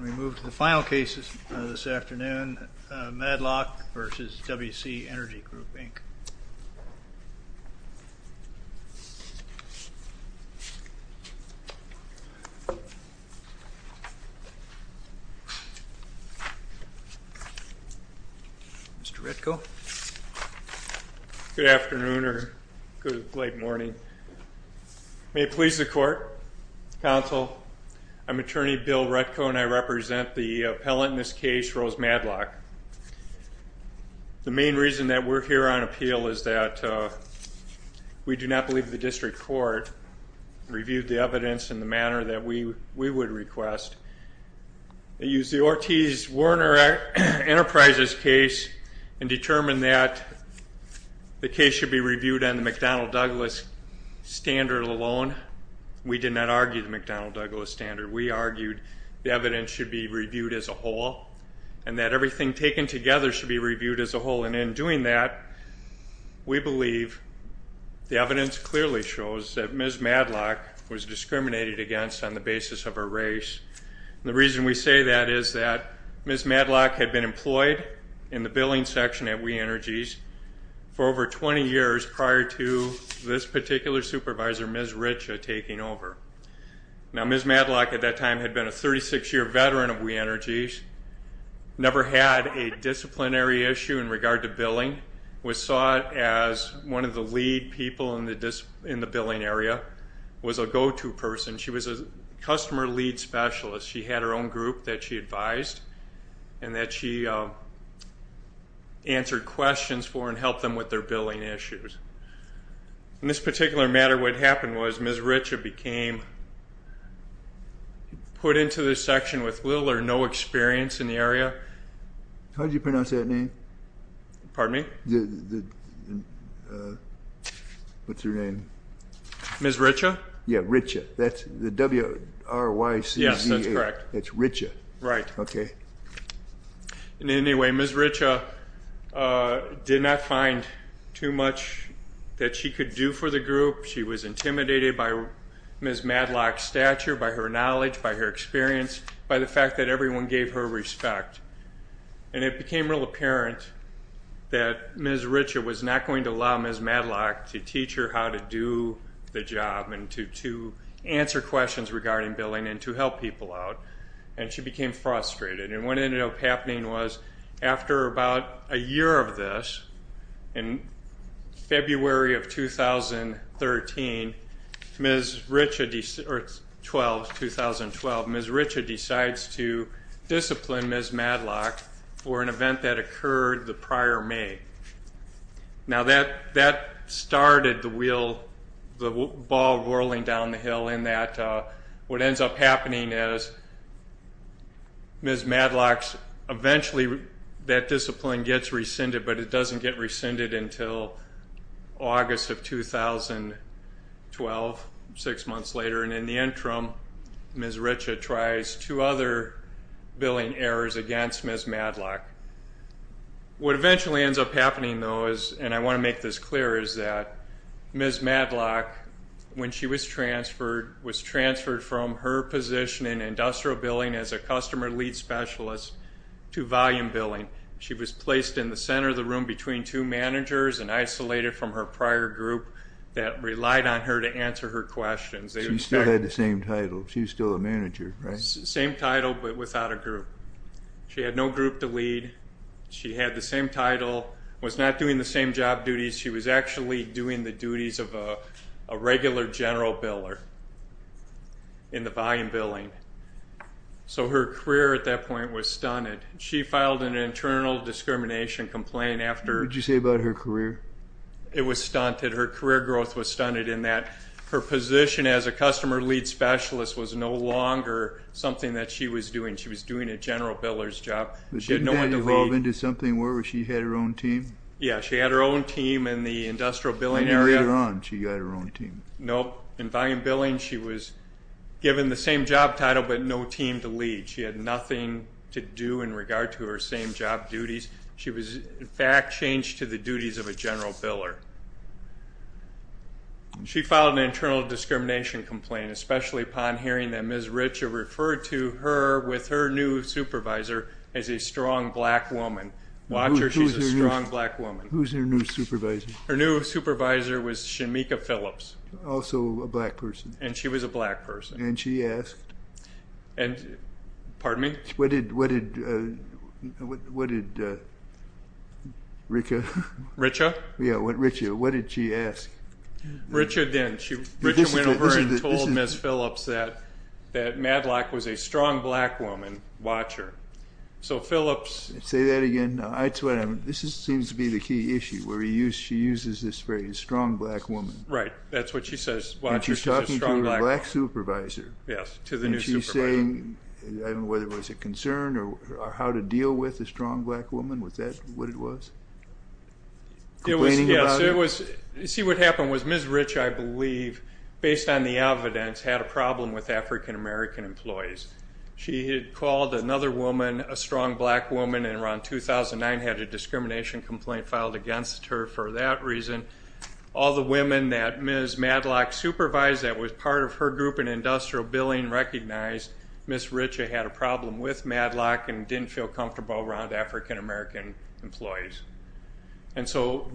We move to the final cases this afternoon, Madlock v. WEC Energy Group, Inc. Mr. Retko. Good afternoon, or good late morning. May it please the court, counsel. I'm attorney Bill Retko, and I represent the appellant in this case, Rose Madlock. The main reason that we're here on appeal is that we do not believe the district court reviewed the evidence in the manner that we would request. They used the Ortiz-Werner Enterprises case and determined that the case should be reviewed on the McDonnell-Douglas standard alone. We did not argue the McDonnell-Douglas standard. We argued the evidence should be reviewed as a whole, and that everything taken together should be reviewed as a whole. And in doing that, we believe the evidence clearly shows that Ms. Madlock was discriminated against on the basis of her race. And the reason we say that is that Ms. Madlock had been employed in the billing section at WE Energies for over 20 years prior to this particular supervisor, Ms. Richa, taking over. Now, Ms. Madlock at that time had been a 36-year veteran of WE Energies, never had a disciplinary issue in regard to billing, was sought as one of the lead people in the billing area, was a go-to person. She was a customer lead specialist. She had her own group that she advised and that she answered questions for and helped them with their billing issues. In this particular matter, what happened was Ms. Richa became put into the section with little or no experience in the area. How did you pronounce that name? Pardon me? What's her name? Ms. Richa? Yeah, Richa. That's the W-R-Y-C-Z-A. Yes, that's correct. That's Richa. Right. Okay. Anyway, Ms. Richa did not find too much that she could do for the group. She was intimidated by Ms. Madlock's stature, by her knowledge, by her experience, by the fact that everyone gave her respect, and it became real apparent that Ms. Richa was not going to allow Ms. Madlock to teach her how to do the job and to answer questions regarding billing and to help people out, and she became frustrated. And what ended up happening was after about a year of this, in February of 2013, Ms. Richa, or 12, 2012, Ms. Richa decides to discipline Ms. Madlock for an event that occurred the prior May. Now, that started the ball rolling down the hill in that what ends up happening is Ms. Madlock's, eventually that discipline gets rescinded, but it doesn't get rescinded until August of 2012, six months later. And in the interim, Ms. Richa tries two other billing errors against Ms. Madlock. What eventually ends up happening, though, and I want to make this clear, is that Ms. Madlock, when she was transferred, was transferred from her position in industrial billing as a customer lead specialist to volume billing. She was placed in the center of the room between two managers and isolated from her prior group that relied on her to answer her questions. She still had the same title. She was still a manager, right? Same title, but without a group. She had no group to lead. She had the same title, was not doing the same job duties. She was actually doing the duties of a regular general biller in the volume billing. So her career at that point was stunted. She filed an internal discrimination complaint after... It was stunted. Her career growth was stunted in that her position as a customer lead specialist was no longer something that she was doing. She was doing a general biller's job. She had no one to lead. Didn't that evolve into something where she had her own team? Yeah, she had her own team in the industrial billing area. And later on, she got her own team. Nope. In volume billing, she was given the same job title, but no team to lead. She had nothing to do in regard to her same job duties. She was, in fact, changed to the duties of a general biller. She filed an internal discrimination complaint, especially upon hearing that Ms. Richer referred to her with her new supervisor as a strong black woman. Watch her. She's a strong black woman. Who's her new supervisor? Her new supervisor was Shemekia Phillips. Also a black person. And she was a black person. And she asked... Pardon me? What did Richa... Richa? Yeah, Richa, what did she ask? Richa went over and told Ms. Phillips that Madlock was a strong black woman. Watch her. So Phillips... Say that again. This seems to be the key issue, where she uses this phrase, strong black woman. Right, that's what she says. Watch her, she's a strong black woman. And she's talking to her black supervisor. Yes, to the new supervisor. Was she saying, I don't know whether it was a concern or how to deal with a strong black woman? Was that what it was? Complaining about it? Yes, it was. See, what happened was Ms. Rich, I believe, based on the evidence, had a problem with African-American employees. She had called another woman, a strong black woman, in around 2009, had a discrimination complaint filed against her for that reason. All the women that Ms. Madlock supervised that was part of her group in industrial billing recognized Ms. Richa had a problem with Madlock and didn't feel comfortable around African-American employees. And so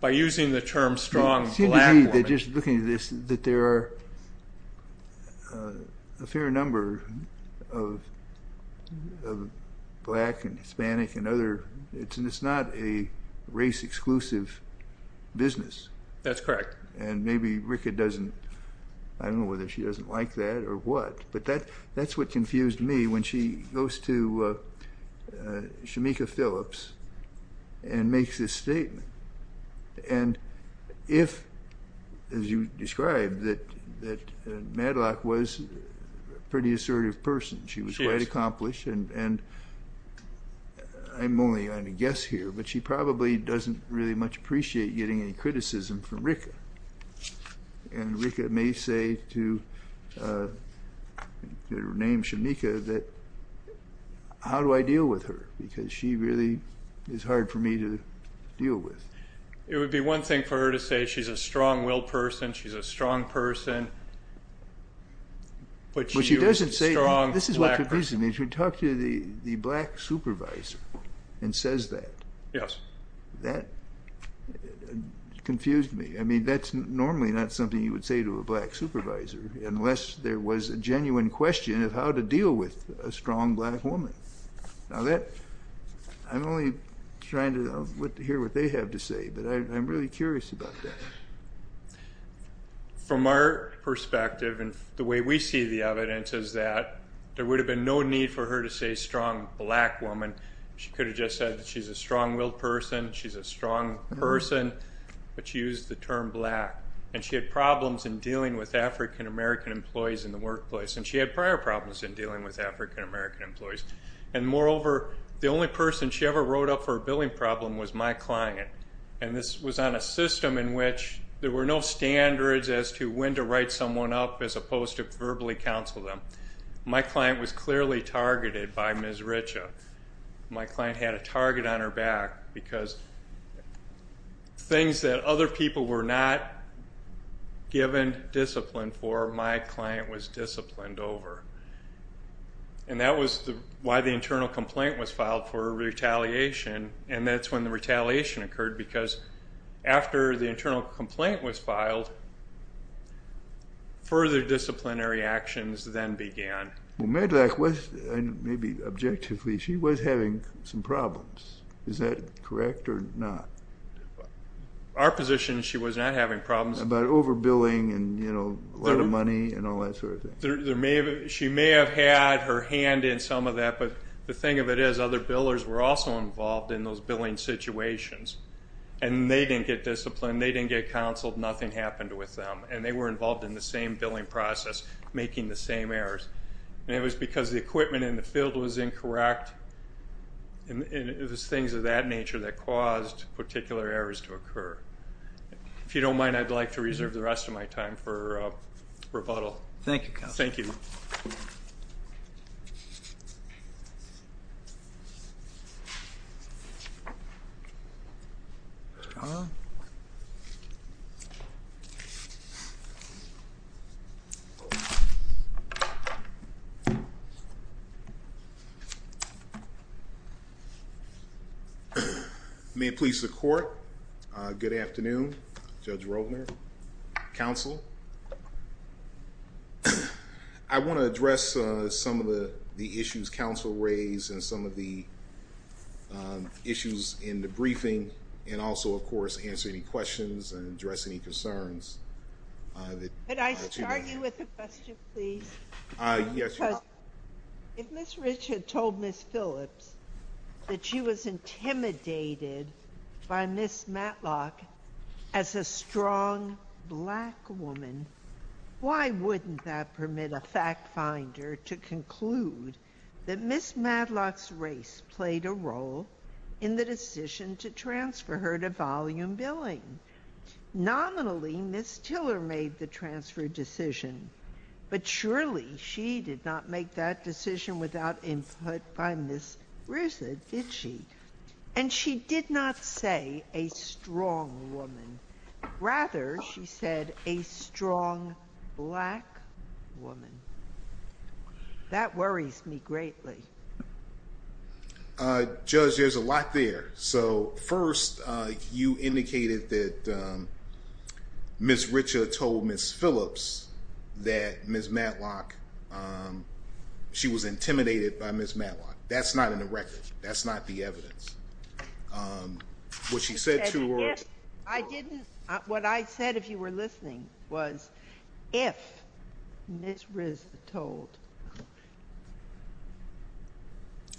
by using the term strong black woman... That's correct. And maybe Richa doesn't, I don't know whether she doesn't like that or what. But that's what confused me when she goes to Shameka Phillips and makes this statement. And if, as you described, that Madlock was a pretty assertive person. She was quite accomplished. And I'm only on a guess here, but she probably doesn't really much appreciate getting any criticism from Richa. And Richa may say to her name, Shameka, that, how do I deal with her? Because she really is hard for me to deal with. It would be one thing for her to say she's a strong-willed person, she's a strong person, but she was a strong black person. This is what confused me. She would talk to the black supervisor and says that. Yes. That confused me. I mean, that's normally not something you would say to a black supervisor, unless there was a genuine question of how to deal with a strong black woman. Now that, I'm only trying to hear what they have to say, but I'm really curious about that. From our perspective and the way we see the evidence is that there would have been no need for her to say strong black woman. She could have just said that she's a strong-willed person, she's a strong person, but she used the term black. And she had problems in dealing with African-American employees in the workplace, and she had prior problems in dealing with African-American employees. And moreover, the only person she ever wrote up for a billing problem was my client. And this was on a system in which there were no standards as to when to write someone up as opposed to verbally counsel them. My client was clearly targeted by Ms. Richa. My client had a target on her back because things that other people were not given discipline for, my client was disciplined over. And that was why the internal complaint was filed for retaliation, and that's when the retaliation occurred because after the internal complaint was filed, further disciplinary actions then began. Well, Medlock was, maybe objectively, she was having some problems. Is that correct or not? Our position is she was not having problems. About overbilling and, you know, a lot of money and all that sort of thing? She may have had her hand in some of that, but the thing of it is other billers were also involved in those billing situations, and they didn't get disciplined, they didn't get counseled, nothing happened with them, and they were involved in the same billing process making the same errors. And it was because the equipment in the field was incorrect, and it was things of that nature that caused particular errors to occur. If you don't mind, I'd like to reserve the rest of my time for rebuttal. Thank you, Counsel. Thank you. May it please the Court. Good afternoon. Judge Roldner, Counsel. I want to address some of the issues Counsel raised and some of the issues in the briefing and also, of course, answer any questions and address any concerns. Could I start you with a question, please? Yes, Your Honor. If Ms. Rich had told Ms. Phillips that she was intimidated by Ms. Matlock as a strong black woman, why wouldn't that permit a fact finder to conclude that Ms. Matlock's race played a role in the decision to transfer her to volume billing? Nominally, Ms. Tiller made the transfer decision, but surely she did not make that decision without input by Ms. Rich, did she? And she did not say a strong woman. Rather, she said a strong black woman. That worries me greatly. Judge, there's a lot there. So, first, you indicated that Ms. Rich had told Ms. Phillips that Ms. Matlock, she was intimidated by Ms. Matlock. That's not in the record. That's not the evidence. What she said to her. I didn't. What I said, if you were listening, was if Ms. Rich told.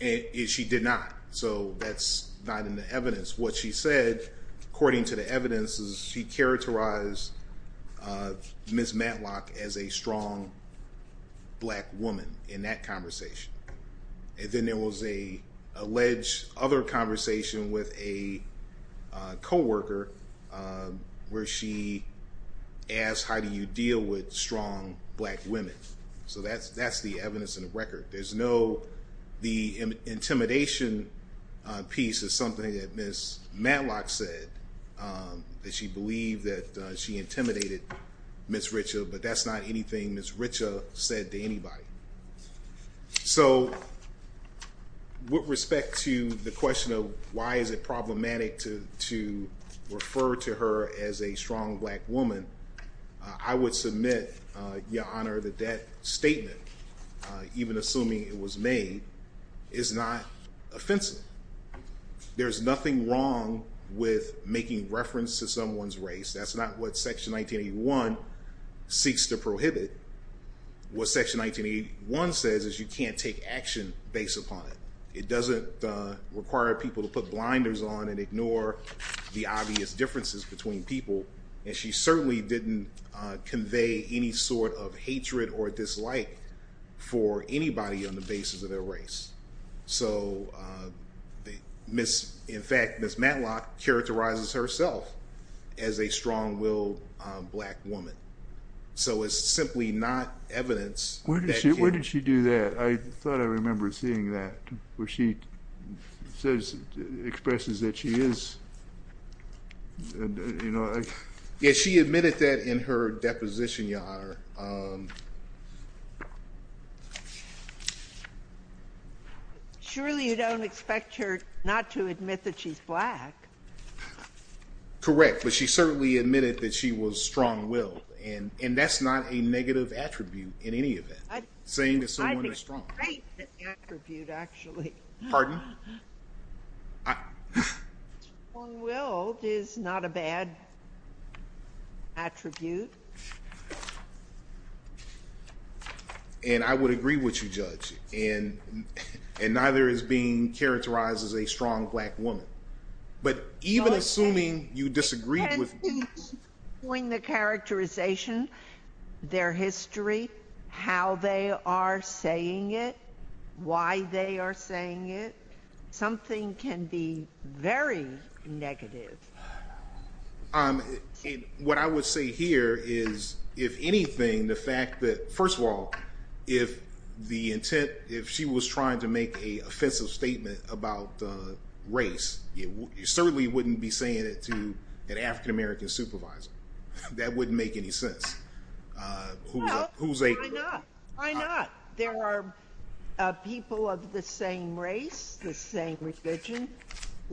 She did not. So that's not in the evidence. What she said, according to the evidence, is she characterized Ms. Matlock as a strong black woman in that conversation. And then there was a alleged other conversation with a co-worker where she asked, how do you deal with strong black women? So that's the evidence in the record. The intimidation piece is something that Ms. Matlock said, that she believed that she intimidated Ms. Rich. But that's not anything Ms. Rich said to anybody. So, with respect to the question of why is it problematic to refer to her as a strong black woman, I would submit, Your Honor, that that statement, even assuming it was made, is not offensive. There's nothing wrong with making reference to someone's race. That's not what Section 1981 seeks to prohibit. What Section 1981 says is you can't take action based upon it. It doesn't require people to put blinders on and ignore the obvious differences between people. And she certainly didn't convey any sort of hatred or dislike for anybody on the basis of their race. So, in fact, Ms. Matlock characterizes herself as a strong-willed black woman. So it's simply not evidence. Where did she do that? I thought I remembered seeing that, where she says, expresses that she is, you know. Yeah, she admitted that in her deposition, Your Honor. Surely you don't expect her not to admit that she's black. Correct. But she certainly admitted that she was strong-willed. And that's not a negative attribute in any event, saying that someone is strong-willed. I'd be great to attribute, actually. Pardon? Strong-willed is not a bad attribute. And I would agree with you, Judge. And neither is being characterized as a strong black woman. But even assuming you disagree with. When the characterization, their history, how they are saying it, why they are saying it, something can be very negative. What I would say here is, if anything, the fact that, first of all, if the intent, if she was trying to make an offensive statement about race, you certainly wouldn't be saying it to an African-American supervisor. That wouldn't make any sense. Why not? There are people of the same race, the same religion,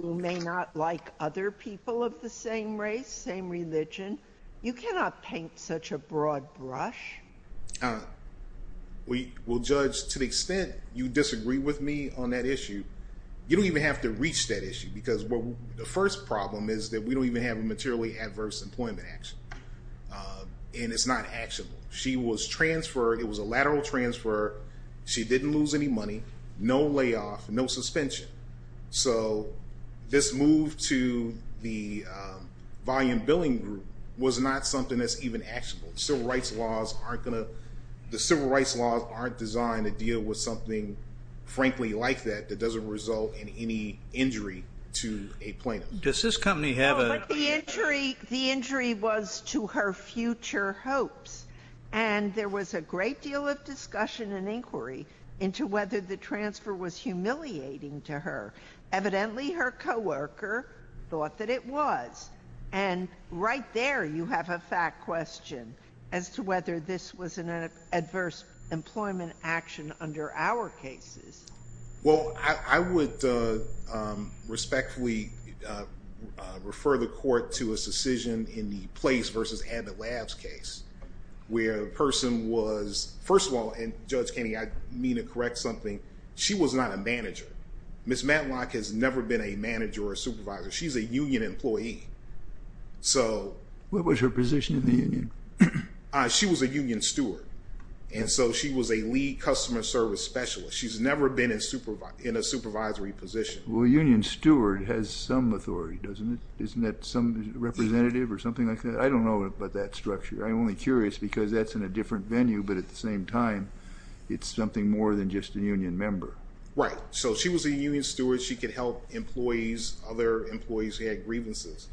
who may not like other people of the same race, same religion. You cannot paint such a broad brush. Well, Judge, to the extent you disagree with me on that issue, you don't even have to reach that issue. Because the first problem is that we don't even have a materially adverse employment action. And it's not actionable. She was transferred. It was a lateral transfer. She didn't lose any money. No layoff. No suspension. So this move to the volume billing group was not something that's even actionable. The civil rights laws aren't designed to deal with something, frankly, like that, that doesn't result in any injury to a plaintiff. Does this company have a The injury was to her future hopes. And there was a great deal of discussion and inquiry into whether the transfer was humiliating to her. Evidently, her coworker thought that it was. And right there, you have a fact question as to whether this was an adverse employment action under our cases. Well, I would respectfully refer the court to a decision in the Place v. Abbott Labs case. Where the person was, first of all, and Judge Kenney, I mean to correct something, she was not a manager. Ms. Matlock has never been a manager or supervisor. She's a union employee. What was her position in the union? She was a union steward. And so she was a lead customer service specialist. She's never been in a supervisory position. Well, a union steward has some authority, doesn't it? Isn't that some representative or something like that? I don't know about that structure. I'm only curious because that's in a different venue. But at the same time, it's something more than just a union member. Right. So she was a union steward. She could help other employees who had grievances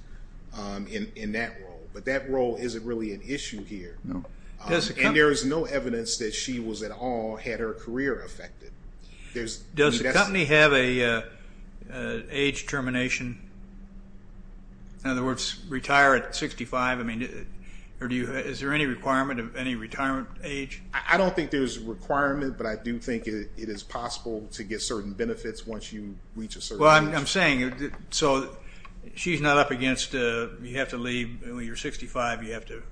in that role. But that role isn't really an issue here. No. And there is no evidence that she was at all had her career affected. Does the company have an age termination? In other words, retire at 65? Is there any requirement of any retirement age? I don't think there's a requirement, but I do think it is possible to get certain benefits once you reach a certain age. Like I'm saying, so she's not up against you have to leave. When you're 65, you have to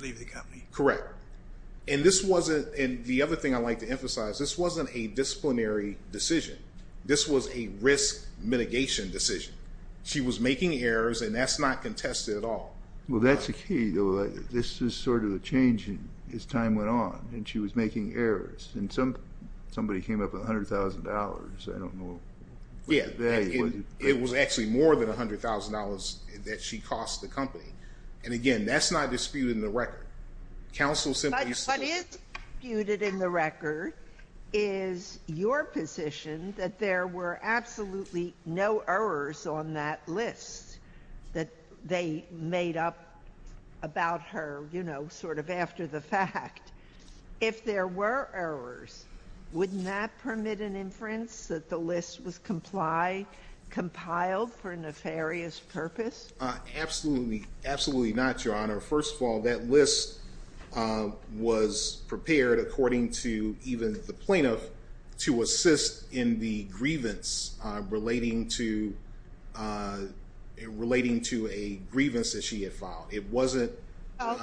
leave the company. Correct. And the other thing I'd like to emphasize, this wasn't a disciplinary decision. This was a risk mitigation decision. She was making errors, and that's not contested at all. Well, that's the key. This is sort of a change as time went on, and she was making errors. And somebody came up with $100,000. Yeah. It was actually more than $100,000 that she cost the company. And, again, that's not disputed in the record. Counsel simply said. What is disputed in the record is your position that there were absolutely no errors on that list that they made up about her, you know, sort of after the fact. If there were errors, wouldn't that permit an inference that the list was compiled for a nefarious purpose? Absolutely not, Your Honor. First of all, that list was prepared, according to even the plaintiff, to assist in the grievance relating to a grievance that she had filed. It wasn't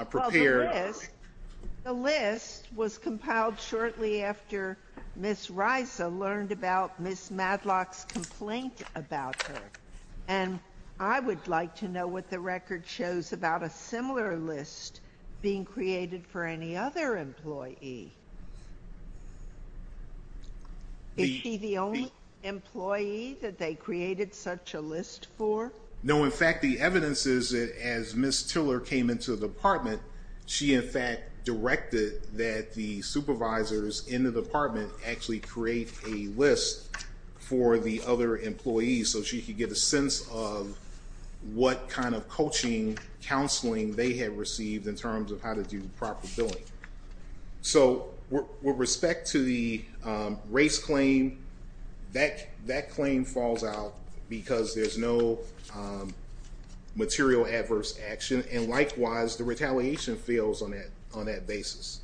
prepared. The list was compiled shortly after Ms. Risa learned about Ms. Madlock's complaint about her. And I would like to know what the record shows about a similar list being created for any other employee. Is she the only employee that they created such a list for? No. In fact, the evidence is that as Ms. Tiller came into the department, she, in fact, directed that the supervisors in the department actually create a list for the other employees, so she could get a sense of what kind of coaching, counseling they had received in terms of how to do the proper billing. So with respect to the race claim, that claim falls out because there's no material adverse action. And likewise, the retaliation fails on that basis.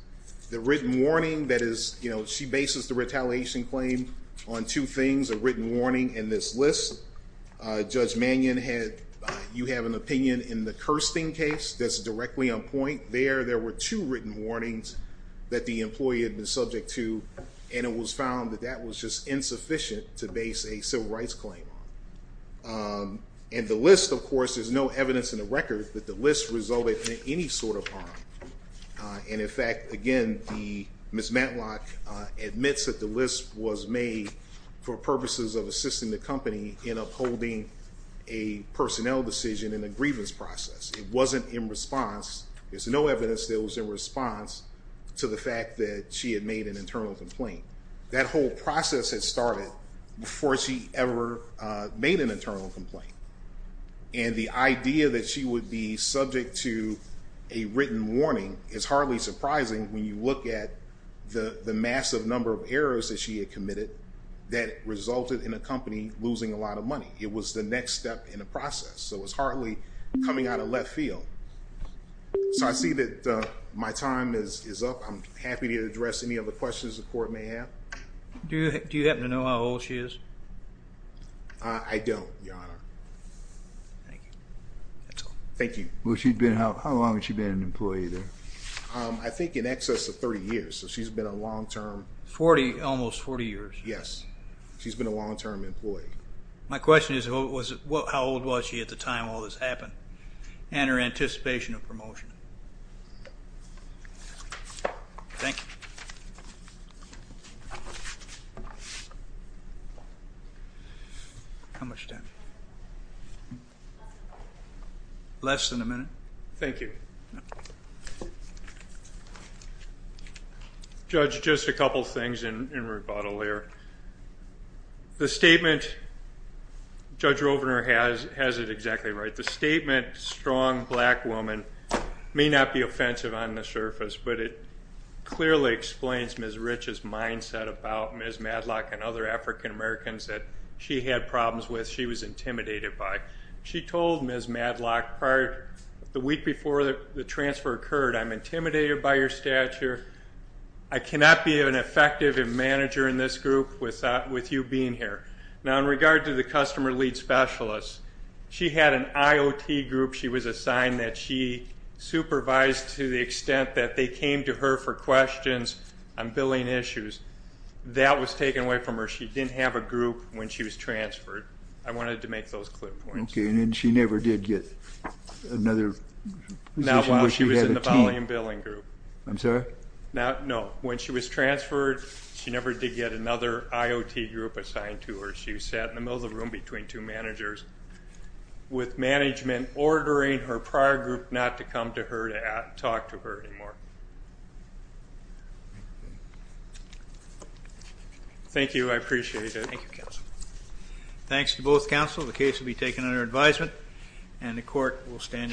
The written warning that is, you know, she bases the retaliation claim on two things, a written warning and this list. Judge Mannion, you have an opinion in the Kirsten case that's directly on point. There, there were two written warnings that the employee had been subject to, and it was found that that was just insufficient to base a civil rights claim on. And the list, of course, there's no evidence in the record that the list resulted in any sort of harm. And in fact, again, Ms. Matlock admits that the list was made for purposes of assisting the company in upholding a personnel decision in a grievance process. It wasn't in response. There's no evidence that it was in response to the fact that she had made an internal complaint. That whole process had started before she ever made an internal complaint. And the idea that she would be subject to a written warning is hardly surprising when you look at the massive number of errors that she had committed that resulted in a company losing a lot of money. It was the next step in the process. So it's hardly coming out of left field. So I see that my time is up. I'm happy to address any other questions the court may have. Do you happen to know how old she is? I don't, Your Honor. Thank you. That's all. Thank you. How long has she been an employee there? I think in excess of 30 years. So she's been a long-term. Almost 40 years. Yes. She's been a long-term employee. My question is how old was she at the time all this happened and her anticipation of promotion? Thank you. How much time? Less than a minute. Thank you. Judge, just a couple things in rebuttal here. The statement Judge Rovner has is exactly right. The statement strong black woman may not be offensive on the surface, but it clearly explains Ms. Rich's mindset about Ms. Madlock and other African-Americans that she had problems with, she was intimidated by. She told Ms. Madlock the week before the transfer occurred, I'm intimidated by your stature. I cannot be an effective manager in this group without you being here. Now, in regard to the customer lead specialist, she had an IOT group she was assigned that she supervised to the extent that they came to her for questions on billing issues. That was taken away from her. She didn't have a group when she was transferred. I wanted to make those clear points. Okay, and then she never did get another position where she had a team? Not while she was in the volume billing group. I'm sorry? No. When she was transferred, she never did get another IOT group assigned to her. She sat in the middle of the room between two managers, with management ordering her prior group not to come to her to talk to her anymore. Thank you. I appreciate it. Thank you, counsel. Thanks to both counsel. The case will be taken under advisement, and the court will stand in recess.